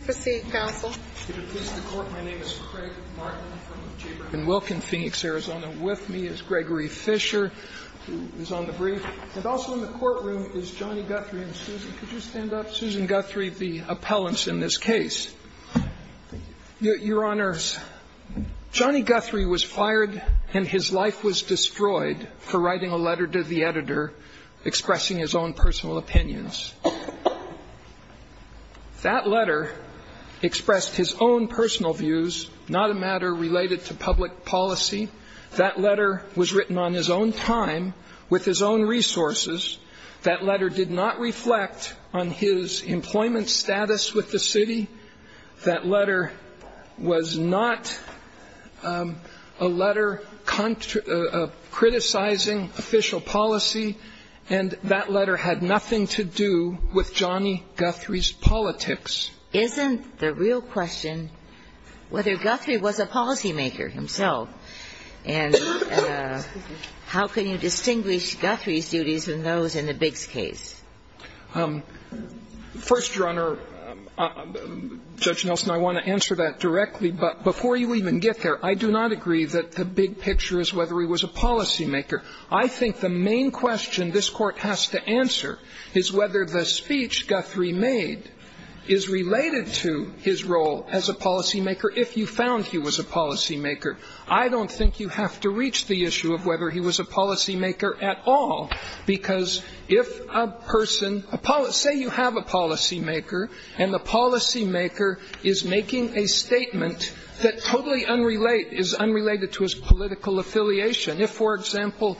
Proceed, counsel. If it pleases the Court, my name is Craig Martin from the Chamber of the Wilken Phoenix, Arizona. With me is Gregory Fisher, who is on the brief, and also in the courtroom is Johnny Guthrie and Susan. Could you stand up? Susan Guthrie, the appellants in this case. Thank you. Your Honor, Johnny Guthrie was fired and his life was destroyed for writing a letter to the editor expressing his own personal opinions. That letter expressed his own personal views, not a matter related to public policy. That letter was written on his own time, with his own resources. That letter did not reflect on his employment status with the city. That letter was not a letter criticizing official policy, and that letter had nothing to do with Johnny Guthrie's politics. Isn't the real question whether Guthrie was a policymaker himself? And how can you distinguish Guthrie's duties from those in the Biggs case? First, Your Honor, Judge Nelson, I want to answer that directly. But before you even get there, I do not agree that the big picture is whether he was a policymaker. I think the main question this Court has to answer is whether the speech Guthrie made is related to his role as a policymaker, if you found he was a policymaker. I don't think you have to reach the issue of whether he was a policymaker at all, because if a person – say you have a policymaker and the policymaker is making a statement that totally unrelated – is unrelated to his political affiliation. If, for example,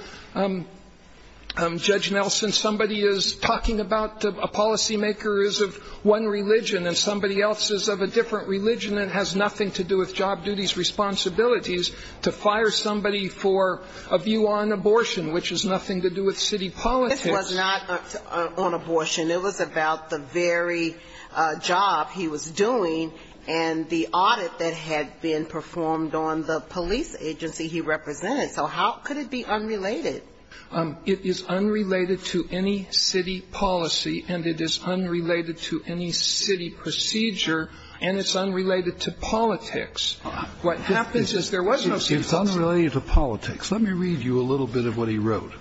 Judge Nelson, somebody is talking about a policymaker is of one religion and somebody else is of a different religion and has nothing to do with job duties, responsibilities, to fire somebody for a view on abortion, which has nothing to do with city politics. This was not on abortion. It was about the very job he was doing and the audit that had been performed on the police agency he represented. So how could it be unrelated? It is unrelated to any city policy and it is unrelated to any city procedure and it's unrelated to politics. What happens is there was no city policy. It's unrelated to politics. Let me read you a little bit of what he wrote.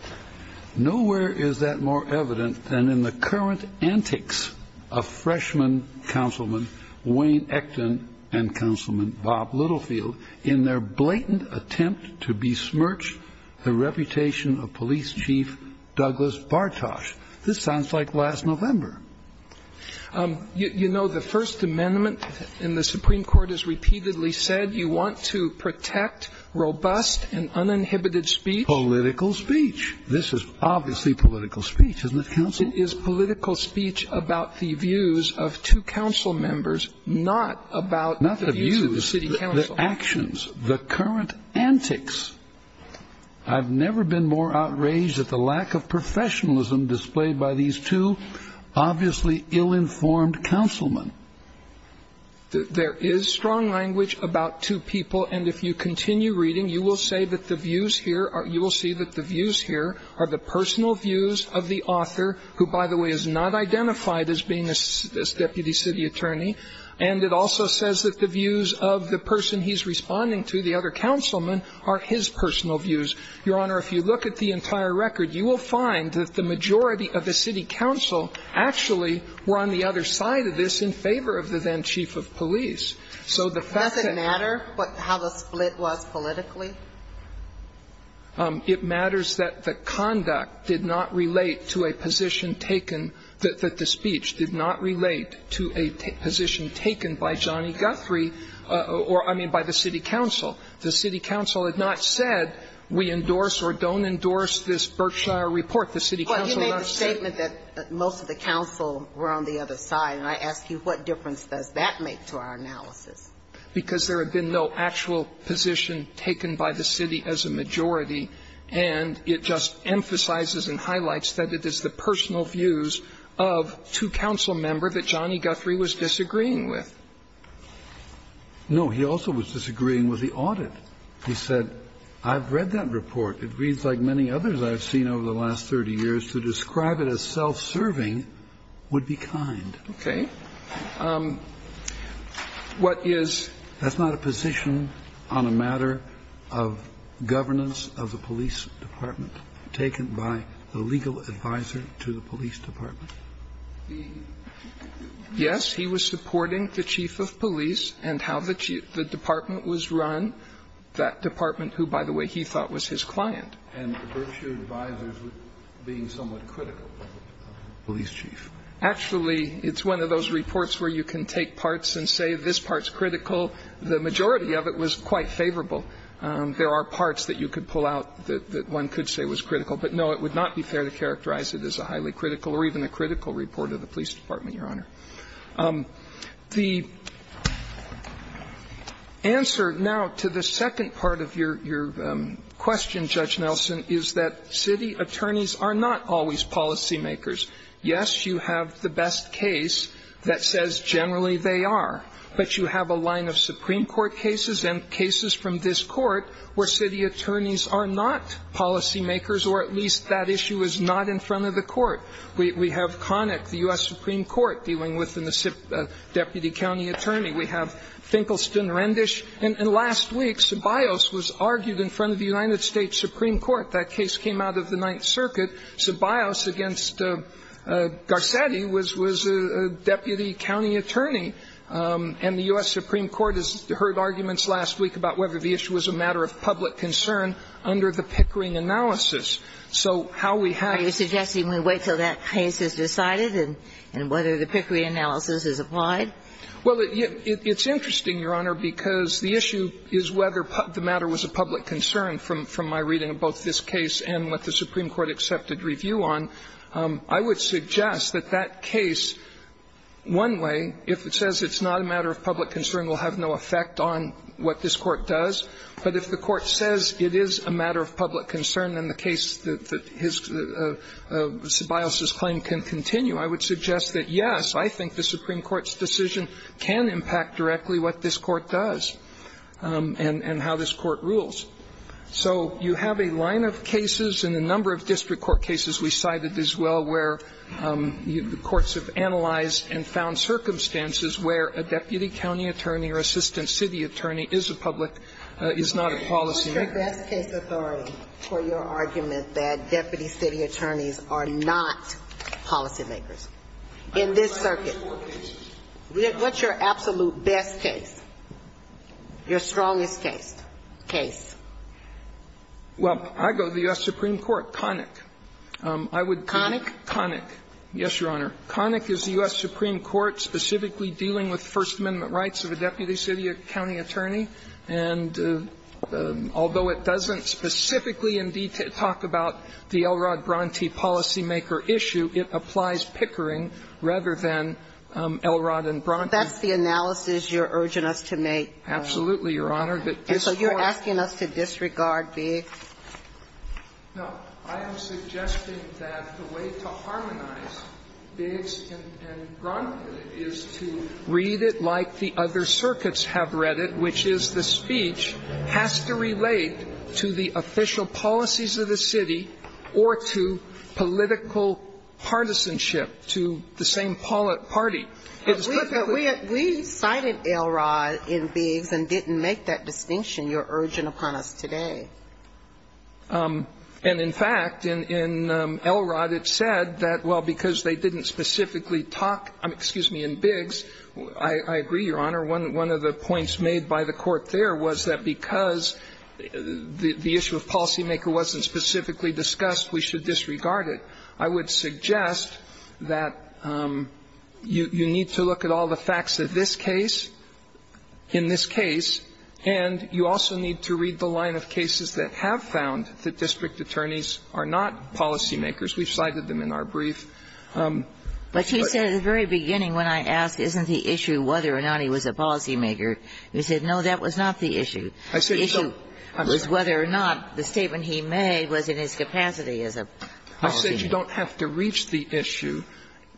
Nowhere is that more evident than in the current antics of freshman councilman Wayne Ecton and councilman Bob Littlefield in their blatant attempt to besmirch the reputation of police chief Douglas Bartosz. This sounds like last November. You know, the First Amendment in the Supreme Court has repeatedly said you want to protect robust and uninhibited speech. Political speech. This is obviously political speech, isn't it, counsel? It is political speech about the views of two council members, not about the views of the city council. Not the views. The actions. The current antics. I've never been more outraged at the lack of professionalism displayed by these two obviously ill-informed councilmen. There is strong language about two people and if you continue reading, you will see that the views here are the personal views of the author, who, by the way, is not identified as being a deputy city attorney, and it also says that the views of the person he's responding to, the other councilman, are his personal views. Your Honor, if you look at the entire record, you will find that the majority of the city council actually were on the other side of this in favor of the then chief of police. So the fact that the conduct did not relate to a position taken, that the speech did not relate to a position taken by Johnny Guthrie or, I mean, by the city council. The city council had not said we endorse or don't endorse this Berkshire report. The city council had not said. Well, you made the statement that most of the council were on the other side, and I ask you, what difference does that make to our analysis? Because there had been no actual position taken by the city as a majority, and it just emphasizes and highlights that it is the personal views of two council members that Johnny Guthrie was disagreeing with. No, he also was disagreeing with the audit. He said, I've read that report. It reads like many others I've seen over the last 30 years. To describe it as self-serving would be kind. Okay. What is? That's not a position on a matter of governance of the police department taken by the legal advisor to the police department. Yes, he was supporting the chief of police and how the department was run, that department who, by the way, he thought was his client. And the Berkshire advisors were being somewhat critical of the police chief. Actually, it's one of those reports where you can take parts and say this part's critical. The majority of it was quite favorable. There are parts that you could pull out that one could say was critical. But, no, it would not be fair to characterize it as a highly critical or even a critical report of the police department, Your Honor. The answer now to the second part of your question, Judge Nelson, is that city attorneys are not always policymakers. Yes, you have the best case that says generally they are, but you have a line of Supreme Court cases and cases from this Court where city attorneys are not policymakers or at least that issue is not in front of the Court. We have Connick, the U.S. Supreme Court, dealing with a deputy county attorney. We have Finkelston, Rendish. And last week, Ceballos was argued in front of the United States Supreme Court. That case came out of the Ninth Circuit. Ceballos against Garcetti was a deputy county attorney. And the U.S. Supreme Court has heard arguments last week about whether the issue was a matter of public concern under the Pickering analysis. So how we have to do that. Are you suggesting we wait until that case is decided and whether the Pickering analysis is applied? Well, it's interesting, Your Honor, because the issue is whether the matter was a public concern from my reading of both this case and what the Supreme Court accepted review on, I would suggest that that case, one way, if it says it's not a matter of public concern, will have no effect on what this Court does. But if the Court says it is a matter of public concern, then the case that Ceballos' claim can continue, I would suggest that, yes, I think the Supreme Court's decision can impact directly what this Court does and how this Court rules. So you have a line of cases and a number of district court cases we cited as well where the courts have analyzed and found circumstances where a deputy county attorney or assistant city attorney is a public, is not a policymaker. What's your best case authority for your argument that deputy city attorneys are not policymakers in this circuit? What's your absolute best case, your strongest case? Well, I go to the U.S. Supreme Court. Connick. Connick? Connick. Yes, Your Honor. Connick is the U.S. Supreme Court specifically dealing with First Amendment rights of a deputy city or county attorney. And although it doesn't specifically in detail talk about the Elrod Bronte policymaker issue, it applies Pickering rather than Elrod and Bronte. That's the analysis you're urging us to make. Absolutely, Your Honor. And so you're asking us to disregard Biggs? No. I am suggesting that the way to harmonize Biggs and Bronte is to read it like the other circuits have read it, which is the speech has to relate to the official partisanship to the same party. But we cited Elrod in Biggs and didn't make that distinction you're urging upon us today. And, in fact, in Elrod it said that, well, because they didn't specifically talk in Biggs, I agree, Your Honor, one of the points made by the court there was that because the issue of policymaker wasn't specifically discussed, we should disregard it. I would suggest that you need to look at all the facts of this case, in this case, and you also need to read the line of cases that have found that district attorneys are not policymakers. We've cited them in our brief. But you said at the very beginning when I asked, isn't the issue whether or not he was a policymaker, you said, no, that was not the issue. The issue was whether or not the statement he made was in his capacity as a policymaker. I said you don't have to reach the issue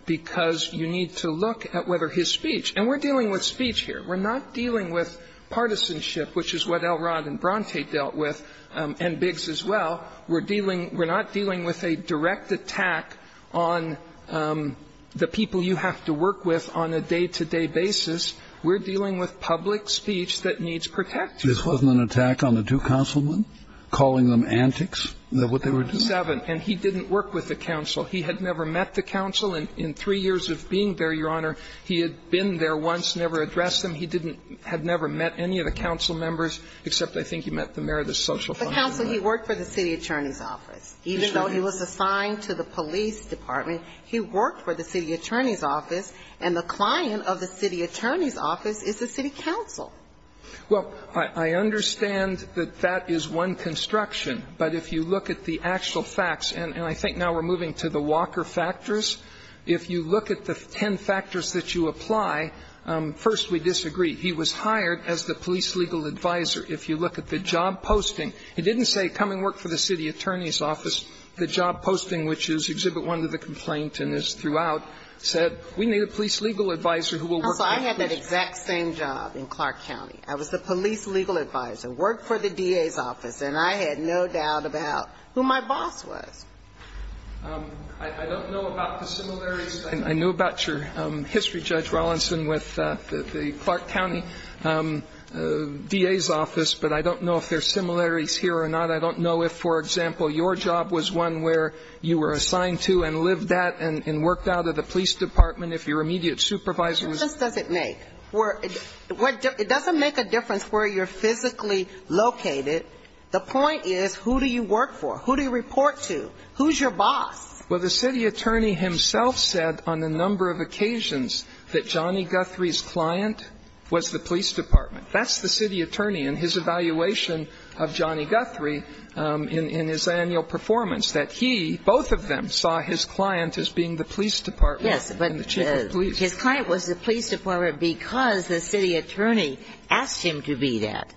because you need to look at whether his speech and we're dealing with speech here. We're not dealing with partisanship, which is what Elrod and Bronte dealt with and Biggs as well. We're dealing we're not dealing with a direct attack on the people you have to work with on a day-to-day basis. We're dealing with public speech that needs protection. This wasn't an attack on the two councilmen, calling them antics, what they were doing? And we want to know what the cause of their attack is. The issue was the fact that Elrod was there. He was there since 1947, and he didn't work with the council. He had never met the council. And in three years of being there, Your Honor, he had been there once, never addressed them. He didn't have never met any of the council members, except, I think, he met the mayor of the social fund. He worked for the city attorney's office. Even though he was assigned to the police department, he worked for the city attorney's office. And I think now we're moving to the Walker factors. If you look at the ten factors that you apply, first, we disagree. He was hired as the police legal advisor. If you look at the job posting, it didn't say come and work for the city attorney's office. The job posting, which is exhibit one of the complaint and is throughout, said we need a police legal advisor who will work. So I had that exact same job in Clark County. I was the police legal advisor, worked for the DA's office, and I had no doubt about who my boss was. I don't know about the similarities. I know about your history, Judge Rawlinson, with the Clark County DA's office, but I don't know if there are similarities here or not. I don't know if, for example, your job was one where you were assigned to and lived at and worked out of the police department if your immediate supervisor was It doesn't make a difference where you're physically located. The point is who do you work for? Who do you report to? Who's your boss? Well, the city attorney himself said on a number of occasions that Johnny Guthrie's client was the police department. That's the city attorney in his evaluation of Johnny Guthrie in his annual performance, that he, both of them, saw his client as being the police department and the chief of police. Yes, but his client was the police department because the city attorney asked him to be that.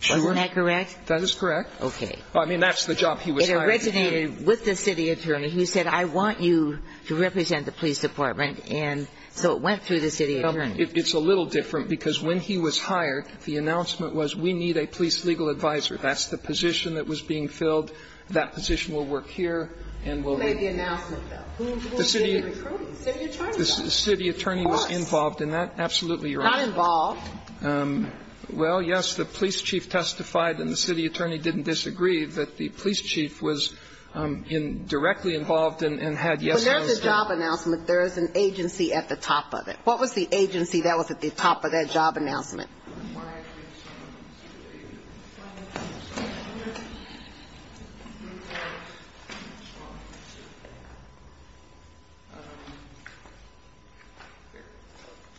She was. Is that correct? That is correct. Okay. Well, I mean, that's the job he was hired to do. It originated with the city attorney. He said, I want you to represent the police department, and so it went through the city attorney. It's a little different because when he was hired, the announcement was we need a police legal advisor. That's the position that was being filled. That position will work here and will Who made the announcement, though? Who did the recruiting? The city attorney did. The city attorney was involved in that? Of course. Absolutely, Your Honor. Not involved. Well, yes, the police chief testified, and the city attorney didn't disagree, that the police chief was directly involved and had yes or no say. When there's a job announcement, there is an agency at the top of it. What was the agency that was at the top of that job announcement?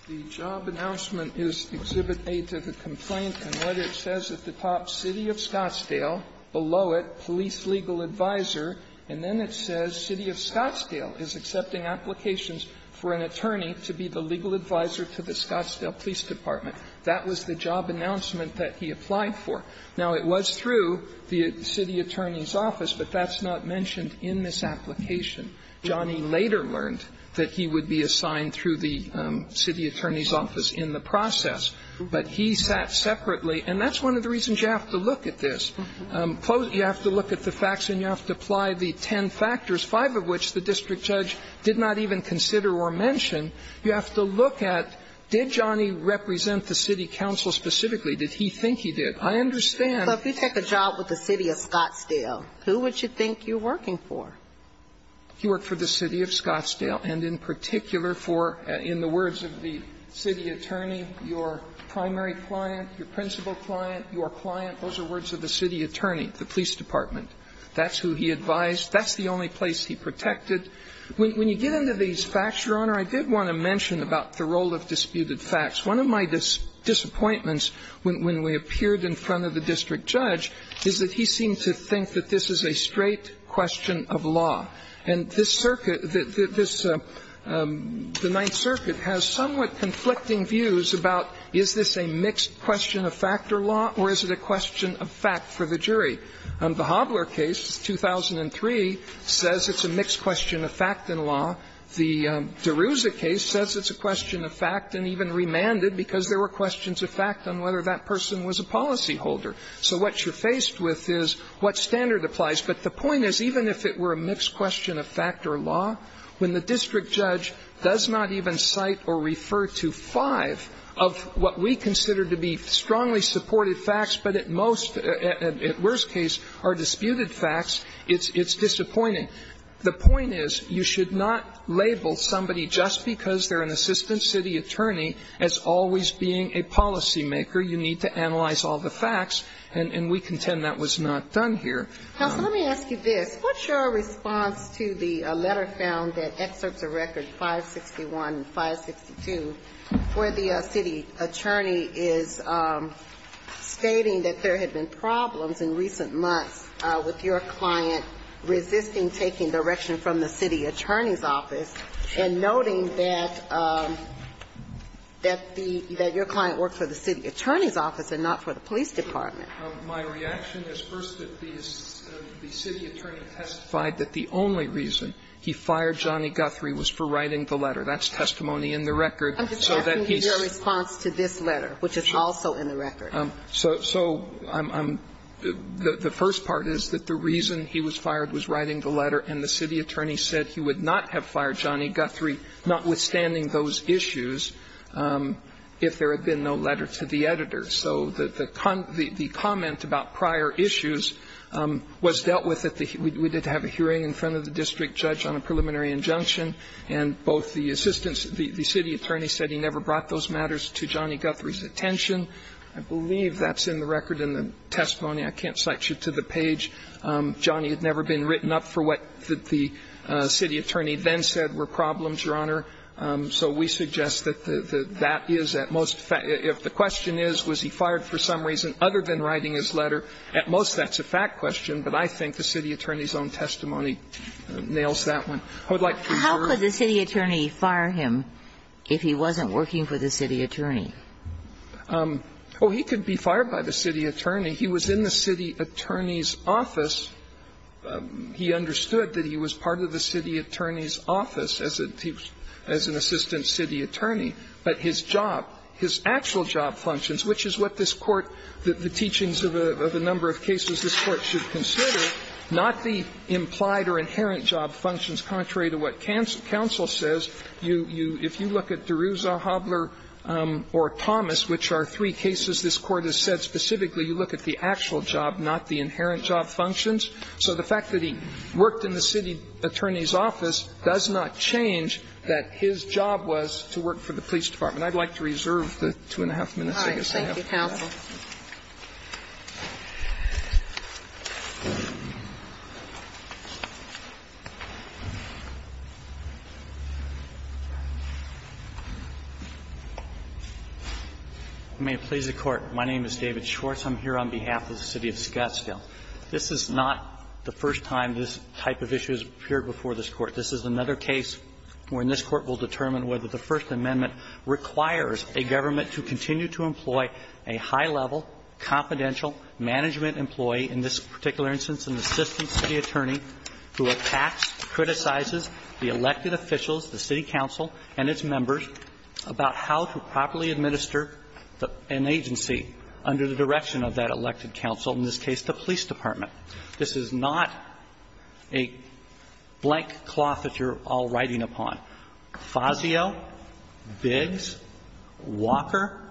The job announcement is Exhibit A to the complaint, and what it says at the top, City of Scottsdale, below it, police legal advisor, and then it says City of Scottsdale is accepting applications for an attorney to be the legal advisor to the Scottsdale Police Department. That was the job announcement that he applied for. Now, it was through the city attorney's office, but that's not mentioned in this application. Johnny later learned that he would be assigned through the city attorney's office in the process, but he sat separately. And that's one of the reasons you have to look at this. You have to look at the facts and you have to apply the ten factors, five of which the district judge did not even consider or mention. You have to look at, did Johnny represent the city council specifically? Did he think he did? I understand. But if you take a job with the City of Scottsdale, who would you think you're working for? He worked for the City of Scottsdale, and in particular for, in the words of the city attorney, your primary client, your principal client, your client, those are words of the city attorney, the police department. That's who he advised. That's the only place he protected. When you get into these facts, Your Honor, I did want to mention about the role of disputed facts. One of my disappointments when we appeared in front of the district judge is that he seemed to think that this is a straight question of law. And this circuit, this, the Ninth Circuit has somewhat conflicting views about is this a mixed question of fact or law, or is it a question of fact for the jury? The Hobler case, 2003, says it's a mixed question of fact and law. The DeRouza case says it's a question of fact and even remanded because there were questions of fact on whether that person was a policyholder. So what you're faced with is what standard applies. But the point is, even if it were a mixed question of fact or law, when the district judge does not even cite or refer to five of what we consider to be strongly supported facts, but at most, at worst case, are disputed facts, it's disappointing. The point is, you should not label somebody just because they're an assistant city attorney as always being a policymaker. You need to analyze all the facts. And we contend that was not done here. Sotomayor, let me ask you this. What's your response to the letter found that excerpts of records 561 and 562 where the city attorney is stating that there had been problems in recent months with your client resisting taking direction from the city attorney's office and noting that the – that your client worked for the city attorney's office and not for the police department? My reaction is, first, that the city attorney testified that the only reason he fired Johnny Guthrie was for writing the letter. That's testimony in the record. So that he's – I'm just asking you your response to this letter, which is also in the record. So I'm – the first part is that the reason he was fired was writing the letter, and the city attorney said he would not have fired Johnny Guthrie, notwithstanding those issues, if there had been no letter to the editor. So the comment about prior issues was dealt with at the – we did have a hearing in front of the district judge on a preliminary injunction, and both the assistants – the city attorney said he never brought those matters to Johnny Guthrie's attention. I believe that's in the record in the testimony. I can't cite you to the page. Johnny had never been written up for what the city attorney then said were problems, Your Honor. So we suggest that that is at most – if the question is, was he fired for some reason other than writing his letter, at most that's a fact question, but I think the city attorney's own testimony nails that one. I would like to hear your response. How could the city attorney fire him if he wasn't working for the city attorney? Oh, he could be fired by the city attorney. He was in the city attorney's office. He understood that he was part of the city attorney's office. He was an assistant city attorney. But his job, his actual job functions, which is what this Court, the teachings of a number of cases this Court should consider, not the implied or inherent job functions, contrary to what counsel says. If you look at DeRouza, Hobler or Thomas, which are three cases this Court has said specifically, you look at the actual job, not the inherent job functions. So the fact that he worked in the city attorney's office does not change that his job was to work for the police department. I'd like to reserve the two and a half minutes I guess I have. All right. Thank you, counsel. May it please the Court. My name is David Schwartz. I'm here on behalf of the city of Scottsdale. This is not the first time this type of issue has appeared before this Court. This is another case wherein this Court will determine whether the First Amendment requires a government to continue to employ a high-level, confidential management employee, in this particular instance an assistant city attorney, who attacks, criticizes the elected officials, the city council and its members, about how to properly This is not a blank cloth that you're all riding upon. Fazio, Biggs, Walker,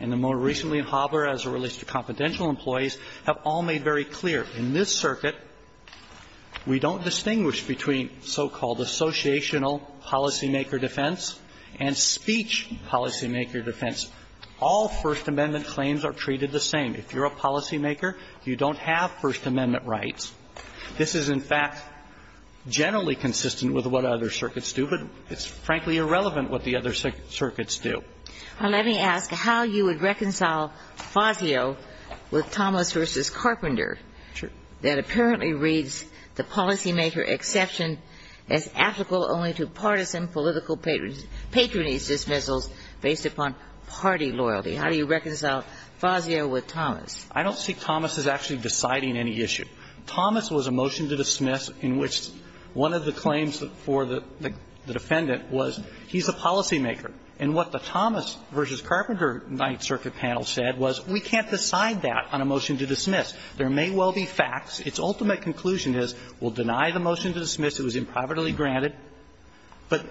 and the more recently, Hobler, as it relates to confidential employees, have all made very clear, in this circuit, we don't distinguish between so-called associational policymaker defense and speech policymaker defense. All First Amendment claims are treated the same. If you're a policymaker, you don't have First Amendment rights. This is, in fact, generally consistent with what other circuits do, but it's frankly irrelevant what the other circuits do. Well, let me ask how you would reconcile Fazio with Thomas v. Carpenter that apparently reads the policymaker exception as ethical only to partisan political patronage dismissals based upon party loyalty. How do you reconcile Fazio with Thomas? I don't see Thomas as actually deciding any issue. Thomas was a motion to dismiss in which one of the claims for the defendant was he's a policymaker. And what the Thomas v. Carpenter Ninth Circuit panel said was we can't decide that on a motion to dismiss. There may well be facts. Its ultimate conclusion is we'll deny the motion to dismiss. It was improbably granted. But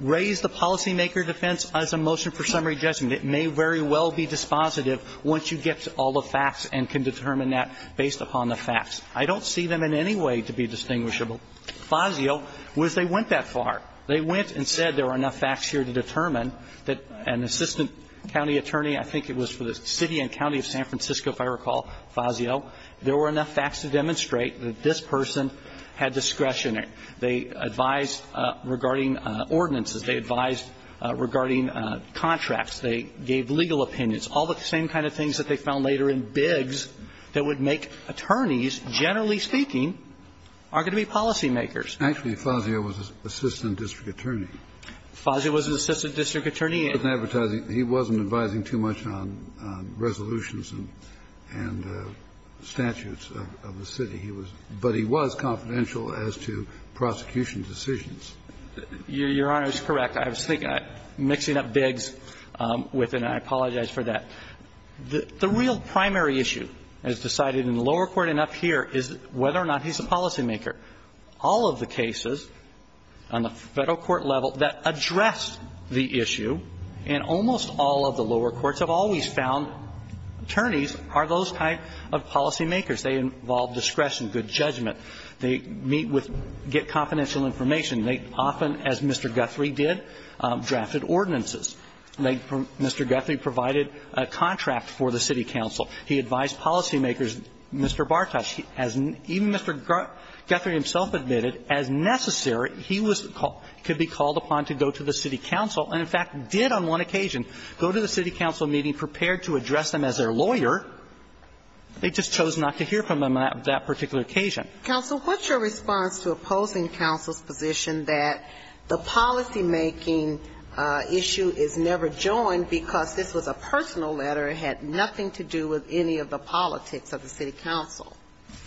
raise the policymaker defense as a motion for summary judgment. It may very well be dispositive once you get to all the facts and can determine that based upon the facts. I don't see them in any way to be distinguishable. Fazio was they went that far. They went and said there are enough facts here to determine that an assistant county attorney, I think it was for the city and county of San Francisco, if I recall, Fazio, there were enough facts to demonstrate that this person had discretion. They advised regarding ordinances. They advised regarding contracts. They gave legal opinions. All the same kind of things that they found later in Biggs that would make attorneys, generally speaking, are going to be policymakers. Actually, Fazio was an assistant district attorney. Fazio was an assistant district attorney. He wasn't advertising. He wasn't advising too much on resolutions and statutes of the city. He was, but he was confidential as to prosecution decisions. Your Honor is correct. I was thinking, mixing up Biggs with, and I apologize for that. The real primary issue as decided in the lower court and up here is whether or not he's a policymaker. All of the cases on the Federal court level that address the issue in almost all of the lower courts have always found attorneys are those type of policymakers. They involve discretion, good judgment. They meet with, get confidential information. They often, as Mr. Guthrie did, drafted ordinances. Mr. Guthrie provided a contract for the city council. He advised policymakers. Mr. Bartosz, as even Mr. Guthrie himself admitted, as necessary, he could be called upon to go to the city council and, in fact, did on one occasion go to the city council meeting prepared to address them as their lawyer. They just chose not to hear from him on that particular occasion. And, counsel, what's your response to opposing counsel's position that the policymaking issue is never joined because this was a personal letter, had nothing to do with any of the politics of the city council?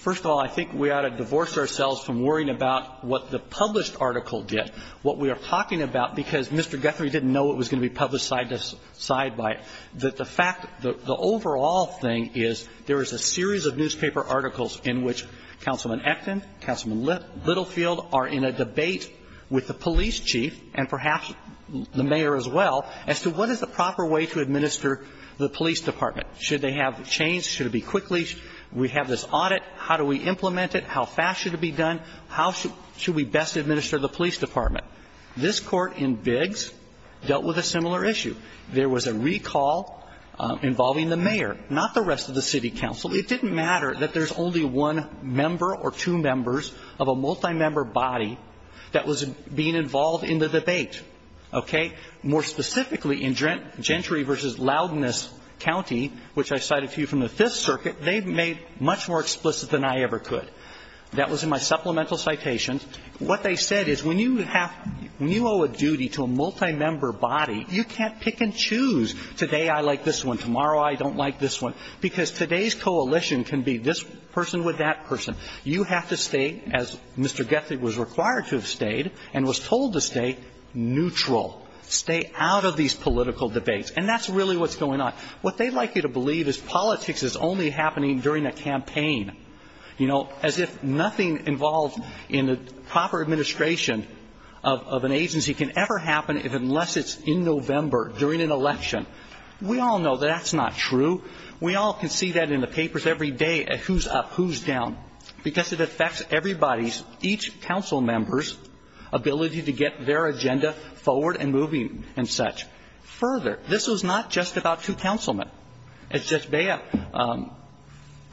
First of all, I think we ought to divorce ourselves from worrying about what the published article did, what we are talking about, because Mr. Guthrie didn't know it was going to be published side by side. The fact, the overall thing is there is a series of newspaper articles in which Councilman Acton, Councilman Littlefield are in a debate with the police chief and perhaps the mayor as well as to what is the proper way to administer the police department. Should they have change? Should it be quickly? We have this audit. How do we implement it? How fast should it be done? How should we best administer the police department? This Court in Biggs dealt with a similar issue. There was a recall involving the mayor, not the rest of the city council. It didn't matter that there is only one member or two members of a multi-member body that was being involved in the debate. Okay? More specifically, in Gentry v. Loudness County, which I cited to you from the Fifth Circuit, they made much more explicit than I ever could. That was in my supplemental citation. What they said is when you have, when you owe a duty to a multi-member body, you can't pick and choose, today I like this one, tomorrow I don't like this one, because today's coalition can be this person with that person. You have to stay as Mr. Goethe was required to have stayed and was told to stay neutral, stay out of these political debates. And that's really what's going on. What they'd like you to believe is politics is only happening during a campaign. You know, as if nothing involved in the proper administration of an agency can ever happen unless it's in November during an election. We all know that that's not true. We all can see that in the papers every day, who's up, who's down, because it affects everybody's, each council member's ability to get their agenda forward and moving and such. Further, this was not just about two councilmen. As Judge Bea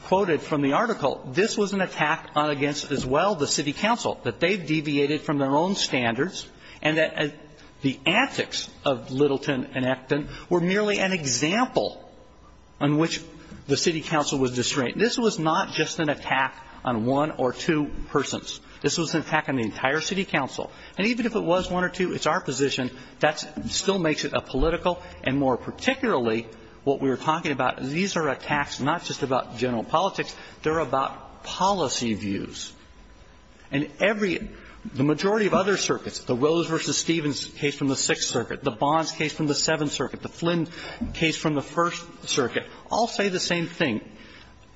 quoted from the article, this was an attack on against as well the city council, that they've deviated from their own standards and that the antics of Littleton and Acton were merely an example on which the city council was distrained. This was not just an attack on one or two persons. This was an attack on the entire city council. And even if it was one or two, it's our position, that still makes it a political issue. And more particularly, what we were talking about, these are attacks not just about general politics. They're about policy views. And every the majority of other circuits, the Rose v. Stevens case from the Sixth Circuit, the Bonds case from the Seventh Circuit, the Flynn case from the First Circuit, all say the same thing.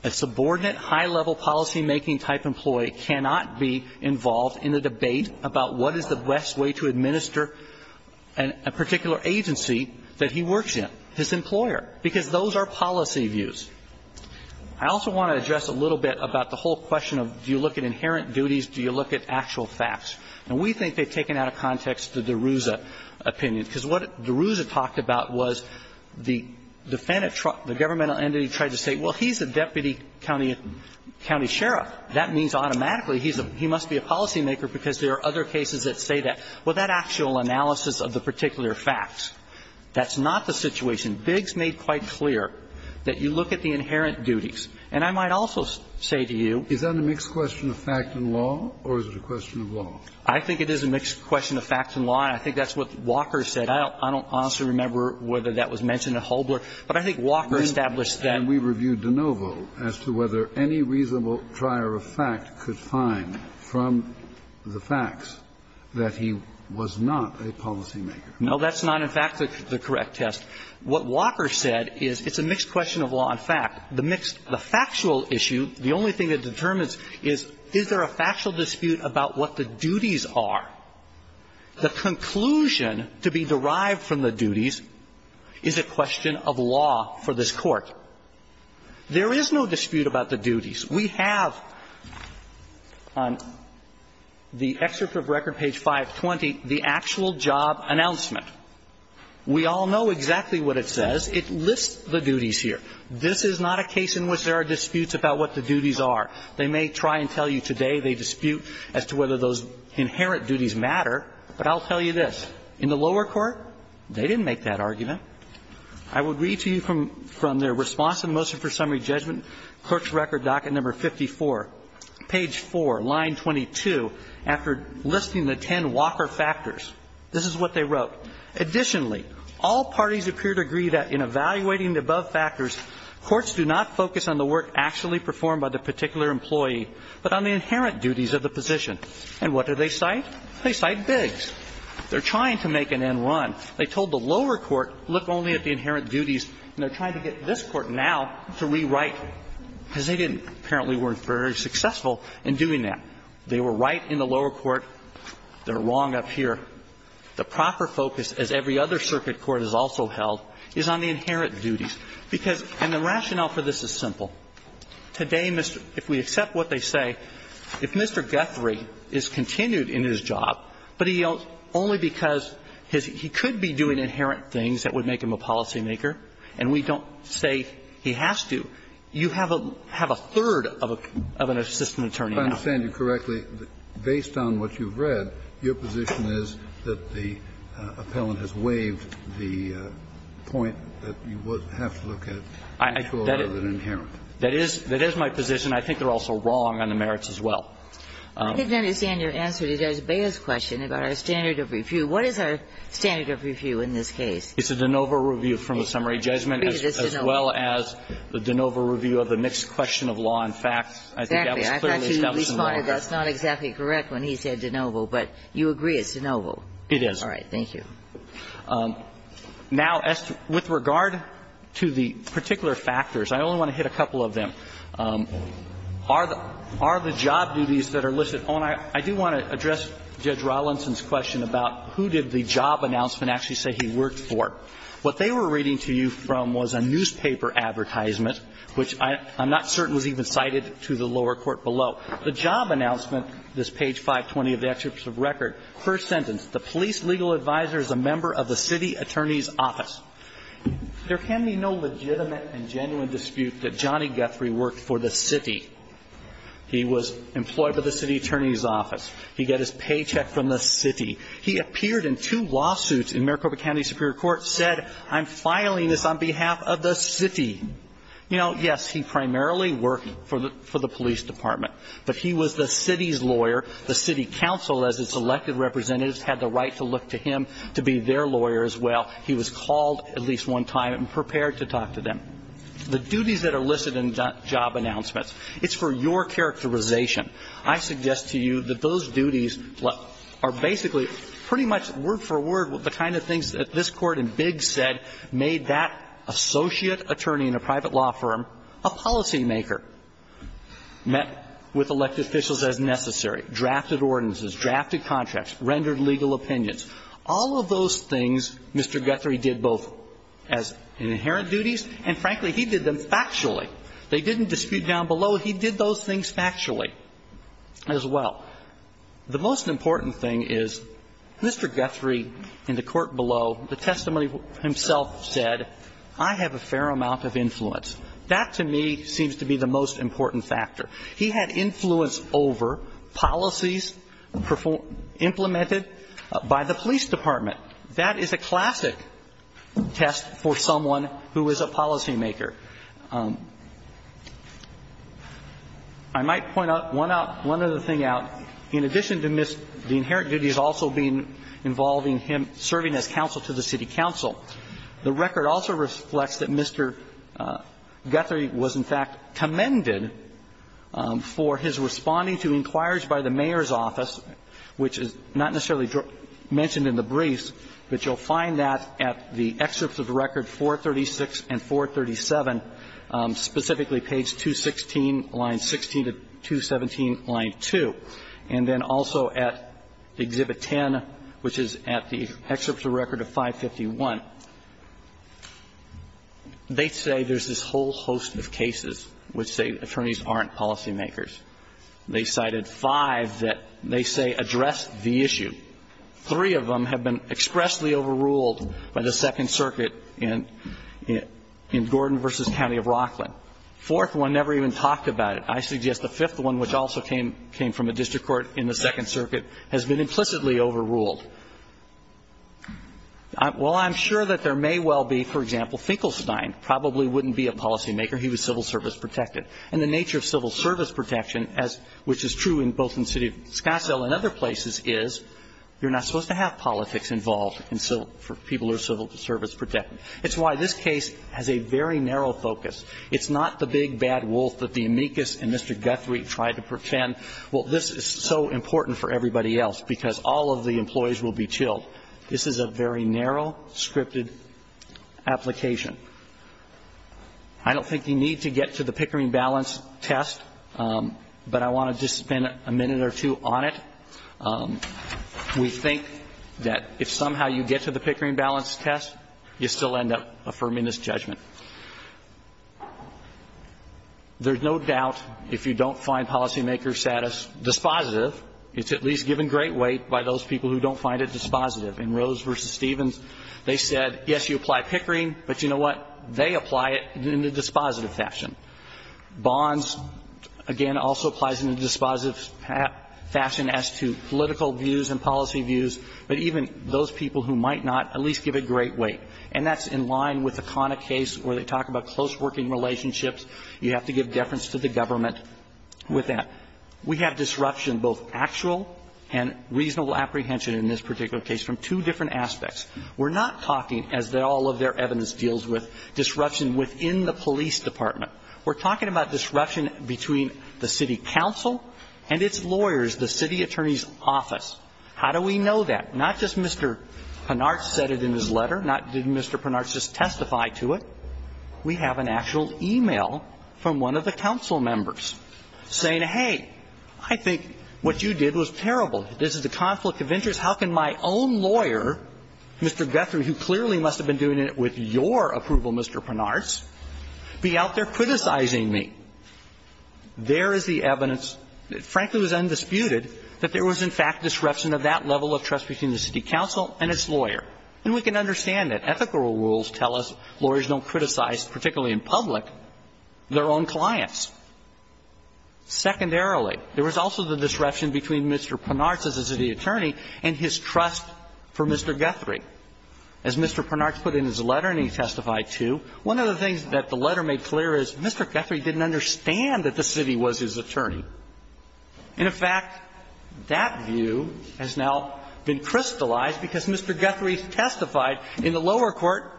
A subordinate high-level policymaking-type employee cannot be involved in a debate about what is the best way to administer a particular agency that he works in, his employer, because those are policy views. I also want to address a little bit about the whole question of do you look at inherent duties, do you look at actual facts. And we think they've taken out of context the DeRouza opinion, because what DeRouza talked about was the defendant, the governmental entity tried to say, well, he's a deputy county sheriff. That means automatically he's a he must be a policymaker because there are other cases that say that. Well, that actual analysis of the particular facts, that's not the situation. Biggs made quite clear that you look at the inherent duties. And I might also say to you. Kennedy is that a mixed question of fact and law, or is it a question of law? I think it is a mixed question of fact and law, and I think that's what Walker said. I don't honestly remember whether that was mentioned at Hobler, but I think Walker established that. And we reviewed DeNovo as to whether any reasonable trier of fact could find from the facts that he was not a policymaker. No, that's not, in fact, the correct test. What Walker said is it's a mixed question of law and fact. The mixed the factual issue, the only thing that determines is, is there a factual dispute about what the duties are? The conclusion to be derived from the duties is a question of law for this Court. There is no dispute about the duties. We have on the excerpt of record page 520 the actual job announcement. We all know exactly what it says. It lists the duties here. This is not a case in which there are disputes about what the duties are. They may try and tell you today they dispute as to whether those inherent duties matter, but I'll tell you this. In the lower court, they didn't make that argument. I will read to you from their response in motion for summary judgment, court's record docket number 54, page 4, line 22, after listing the ten Walker factors. This is what they wrote. Additionally, all parties appear to agree that in evaluating the above factors, courts do not focus on the work actually performed by the particular employee, but on the inherent duties of the position. And what do they cite? They cite Biggs. They're trying to make an N-1. They told the lower court, look only at the inherent duties, and they're trying to get this court now to rewrite, because they didn't. Apparently weren't very successful in doing that. They were right in the lower court. They're wrong up here. The proper focus, as every other circuit court has also held, is on the inherent duties, because the rationale for this is simple. Today, if we accept what they say, if Mr. Guthrie is continued in his job, but he only because he could be doing inherent things that would make him a policymaker, and we don't say he has to, you have a third of an assistant attorney now. Kennedy. I understand you correctly. Based on what you've read, your position is that the appellant has waived the point that you have to look at mutual rather than inherent. That is my position. I think they're also wrong on the merits as well. I didn't understand your answer to Judge Beyer's question about our standard of review. What is our standard of review in this case? It's a de novo review from the summary judgment as well as the de novo review of the mixed question of law and facts. Exactly. I thought you responded that's not exactly correct when he said de novo. But you agree it's de novo. It is. All right. Thank you. Now, with regard to the particular factors, I only want to hit a couple of them. First, are the job duties that are listed. Oh, and I do want to address Judge Rawlinson's question about who did the job announcement actually say he worked for. What they were reading to you from was a newspaper advertisement, which I'm not certain was even cited to the lower court below. The job announcement, this page 520 of the excerpt of record, first sentence, the police legal advisor is a member of the city attorney's office. There can be no legitimate and genuine dispute that Johnny Guthrie worked for the city. He was employed by the city attorney's office. He got his paycheck from the city. He appeared in two lawsuits in Maricopa County Superior Court, said, I'm filing this on behalf of the city. You know, yes, he primarily worked for the police department. But he was the city's lawyer. The city council, as its elected representatives, had the right to look to him to be their lawyer as well. He was called at least one time and prepared to talk to them. The duties that are listed in job announcements, it's for your characterization. I suggest to you that those duties are basically pretty much word for word the kind of things that this Court in Biggs said made that associate attorney in a private law firm a policymaker, met with elected officials as necessary, drafted ordinances, drafted contracts, rendered legal opinions. All of those things Mr. Guthrie did both as inherent duties and, frankly, he did them factually. They didn't dispute down below. He did those things factually as well. The most important thing is Mr. Guthrie in the court below, the testimony himself said, I have a fair amount of influence. That to me seems to be the most important factor. He had influence over policies implemented by the police department. That is a classic test for someone who is a policymaker. I might point out one other thing out. In addition to the inherent duties also being involving him serving as counsel to the city council, the record also reflects that Mr. Guthrie was, in fact, commended for his responding to inquiries by the mayor's office, which is not necessarily mentioned in the briefs, but you'll find that at the excerpts of record 436 and 437, specifically page 216, line 16 to 217, line 2, and then also at exhibit 10, which is at the excerpts of record of 551. They say there's this whole host of cases which say attorneys aren't policymakers. They cited five that they say address the issue. Three of them have been expressly overruled by the Second Circuit in Gordon v. County of Rockland. The fourth one never even talked about it. I suggest the fifth one, which also came from a district court in the Second Circuit, has been implicitly overruled. Well, I'm sure that there may well be, for example, Finkelstein probably wouldn't be a policymaker. He was civil service protected. And the nature of civil service protection, which is true both in the city of Scottsdale and other places, is you're not supposed to have politics involved for people who are civil service protected. It's why this case has a very narrow focus. It's not the big bad wolf that the amicus and Mr. Guthrie tried to pretend, well, this is so important for everybody else because all of the employees will be chilled. This is a very narrow, scripted application. I don't think you need to get to the Pickering balance test, but I want to just spend a minute or two on it. We think that if somehow you get to the Pickering balance test, you still end up affirming this judgment. There's no doubt if you don't find policymaker status dispositive, it's at least given great weight by those people who don't find it dispositive. In Rose v. Stevens, they said, yes, you apply Pickering, but you know what, they apply it in a dispositive fashion. Bonds, again, also applies in a dispositive fashion as to political views and policy views, but even those people who might not at least give it great weight. And that's in line with the Cona case where they talk about close working relationships. You have to give deference to the government with that. We have disruption, both actual and reasonable apprehension in this particular case, from two different aspects. We're not talking, as all of their evidence deals with, disruption within the police department. We're talking about disruption between the city council and its lawyers, the city attorney's office. How do we know that? Not just Mr. Pinard said it in his letter, not did Mr. Pinard just testify to it. We have an actual e-mail from one of the council members saying, hey, I think what you did was terrible, this is a conflict of interest. How can my own lawyer, Mr. Guthrie, who clearly must have been doing it with your approval, Mr. Pinard's, be out there criticizing me? There is the evidence, frankly it was undisputed, that there was in fact disruption of that level of trust between the city council and its lawyer. And we can understand that. Ethical rules tell us lawyers don't criticize, particularly in public, their own clients. Secondarily, there was also the disruption between Mr. Pinard's as a city attorney and his trust for Mr. Guthrie. As Mr. Pinard put in his letter and he testified to, one of the things that the letter made clear is Mr. Guthrie didn't understand that the city was his attorney. And in fact, that view has now been crystallized because Mr. Guthrie testified in the lower court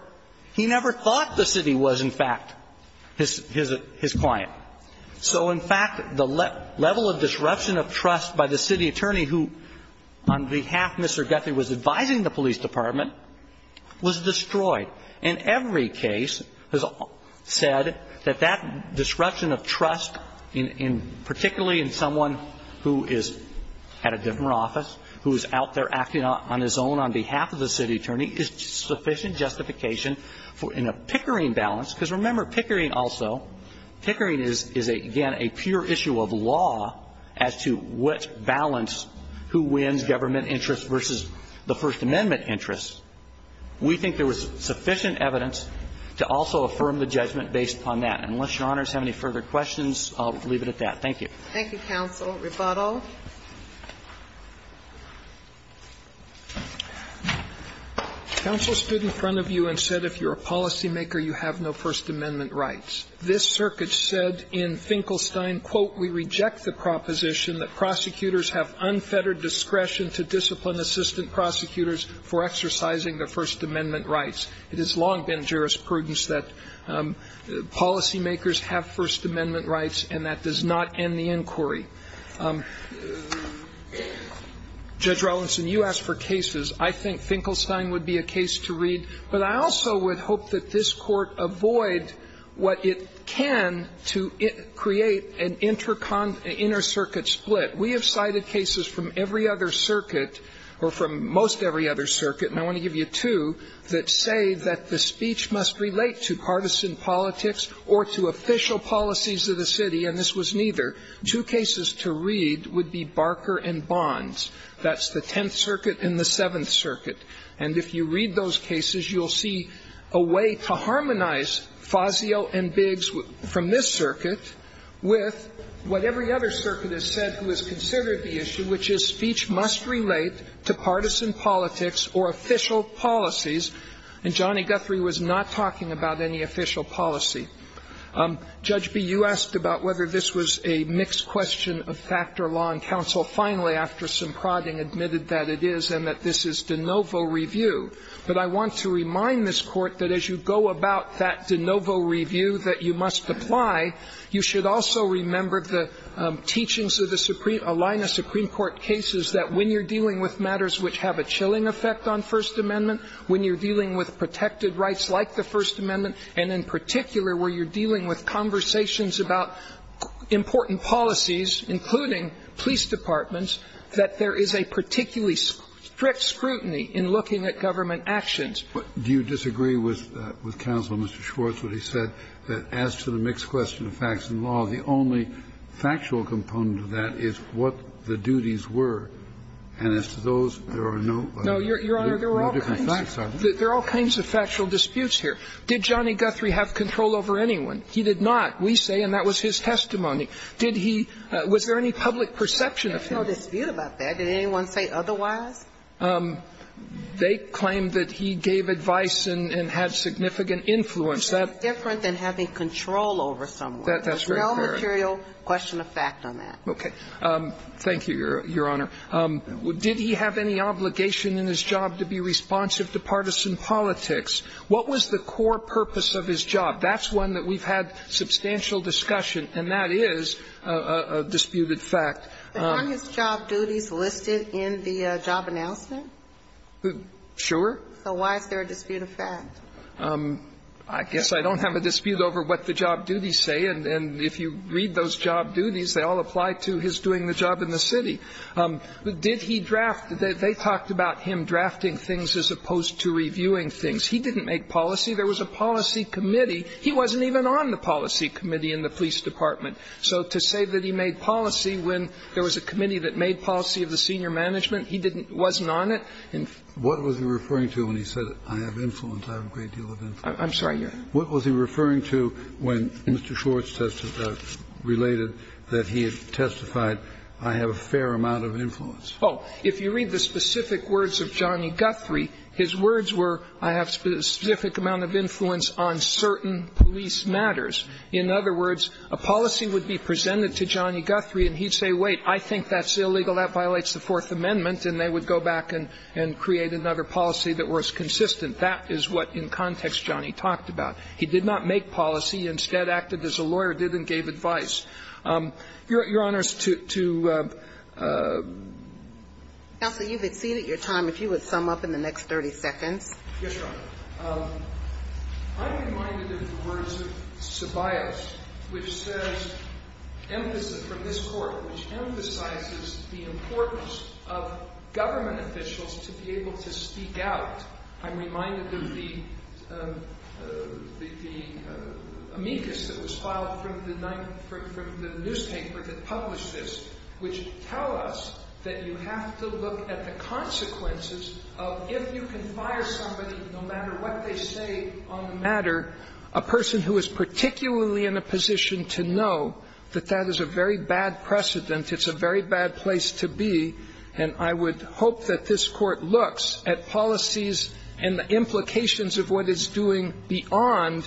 he never thought the city was, in fact, his client. So in fact, the level of disruption of trust by the city attorney who, on behalf of Mr. Guthrie, was advising the police department was destroyed. And every case has said that that disruption of trust, particularly in someone who is at a different office, who is out there acting on his own on behalf of the city attorney, is sufficient justification in a Pickering balance. Because remember, Pickering also, Pickering is, again, a pure issue of law as to which balance who wins government interest versus the First Amendment interest. We think there was sufficient evidence to also affirm the judgment based upon that. And unless Your Honors have any further questions, I'll leave it at that. Thank you. Thank you, counsel. Rebuttal. Counsel stood in front of you and said if you're a policymaker, you have no First Amendment rights. This circuit said in Finkelstein, quote, we reject the proposition that prosecutors have unfettered discretion to discipline assistant prosecutors for exercising their First Amendment rights. It has long been jurisprudence that policymakers have First Amendment rights, and that does not end the inquiry. Judge Rawlinson, you asked for cases. I think Finkelstein would be a case to read. But I also would hope that this Court avoid what it can to create an intercircuit split. We have cited cases from every other circuit, or from most every other circuit, and I want to give you two, that say that the speech must relate to partisan politics or to official policies of the city, and this was neither. Two cases to read would be Barker and Bonds. That's the Tenth Circuit and the Seventh Circuit. And if you read those cases, you'll see a way to harmonize Fazio and Biggs from this circuit with what every other circuit has said who has considered the issue, which is speech must relate to partisan politics or official policies. And Johnny Guthrie was not talking about any official policy. Judge Bee, you asked about whether this was a mixed question of factor law and counsel finally, after some prodding, admitted that it is and that this is de novo review. But I want to remind this Court that as you go about that de novo review that you must apply, you should also remember the teachings of the Supreme – Alina Supreme Court cases that when you're dealing with matters which have a chilling effect on First Amendment, when you're dealing with protected rights like the First Amendment and in particular, where you're dealing with conversations about important policies, including police departments, that there is a particularly strict scrutiny in looking at government actions. But do you disagree with Counselor Mr. Schwartz when he said that as to the mixed question of facts and law, the only factual component of that is what the duties were, and as to those, there are no different facts, are there? No, Your Honor, there are all kinds of factual disputes here. Did Johnny Guthrie have control over anyone? He did not, we say, and that was his testimony. Did he – was there any public perception of him? There's no dispute about that. Did anyone say otherwise? They claimed that he gave advice and had significant influence. That's different than having control over someone. That's very fair. There's no material question of fact on that. Okay. Thank you, Your Honor. Did he have any obligation in his job to be responsive to partisan politics? What was the core purpose of his job? That's one that we've had substantial discussion, and that is a disputed fact. But aren't his job duties listed in the job announcement? Sure. So why is there a dispute of fact? I guess I don't have a dispute over what the job duties say, and if you read those job duties, they all apply to his doing the job in the city. Did he draft – they talked about him drafting things as opposed to reviewing things. He didn't make policy. There was a policy committee. He wasn't even on the policy committee in the police department. So to say that he made policy when there was a committee that made policy of the senior management, he didn't – wasn't on it. What was he referring to when he said, I have influence, I have a great deal of influence? I'm sorry, Your Honor. What was he referring to when Mr. Schwartz related that he had testified, I have a fair amount of influence? Oh, if you read the specific words of Johnny Guthrie, his words were, I have a specific amount of influence on certain police matters. In other words, a policy would be presented to Johnny Guthrie and he'd say, wait, I think that's illegal, that violates the Fourth Amendment, and they would go back and create another policy that was consistent. That is what in context Johnny talked about. He did not make policy. Instead, acted as a lawyer, did and gave advice. Your Honor, to – to – Counsel, you've exceeded your time. If you would sum up in the next 30 seconds. Yes, Your Honor. I'm reminded of the words of Ceballos, which says, emphasis from this Court, which emphasizes the importance of government officials to be able to speak out. I'm reminded of the amicus that was filed from the newspaper that published this, which tell us that you have to look at the consequences of if you can fire somebody, no matter what they say on the matter, a person who is particularly in a position to know that that is a very bad precedent, it's a very bad place to be, and I would hope that this Court looks at policies and the implications of what it's doing beyond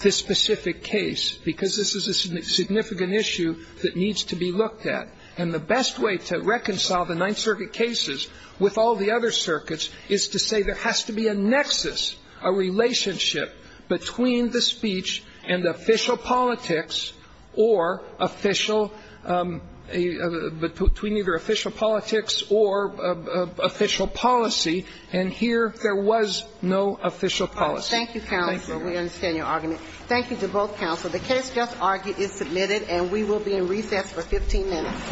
this specific case, because this is a significant issue that needs to be looked at. And the best way to reconcile the Ninth Circuit cases with all the other circuits is to say there has to be a nexus, a relationship between the speech and official politics or official, between either official politics or official policy, and here there was no official policy. Thank you, Counselor. We understand your argument. Thank you to both Counselors. The case just argued is submitted, and we will be in recess for 15 minutes.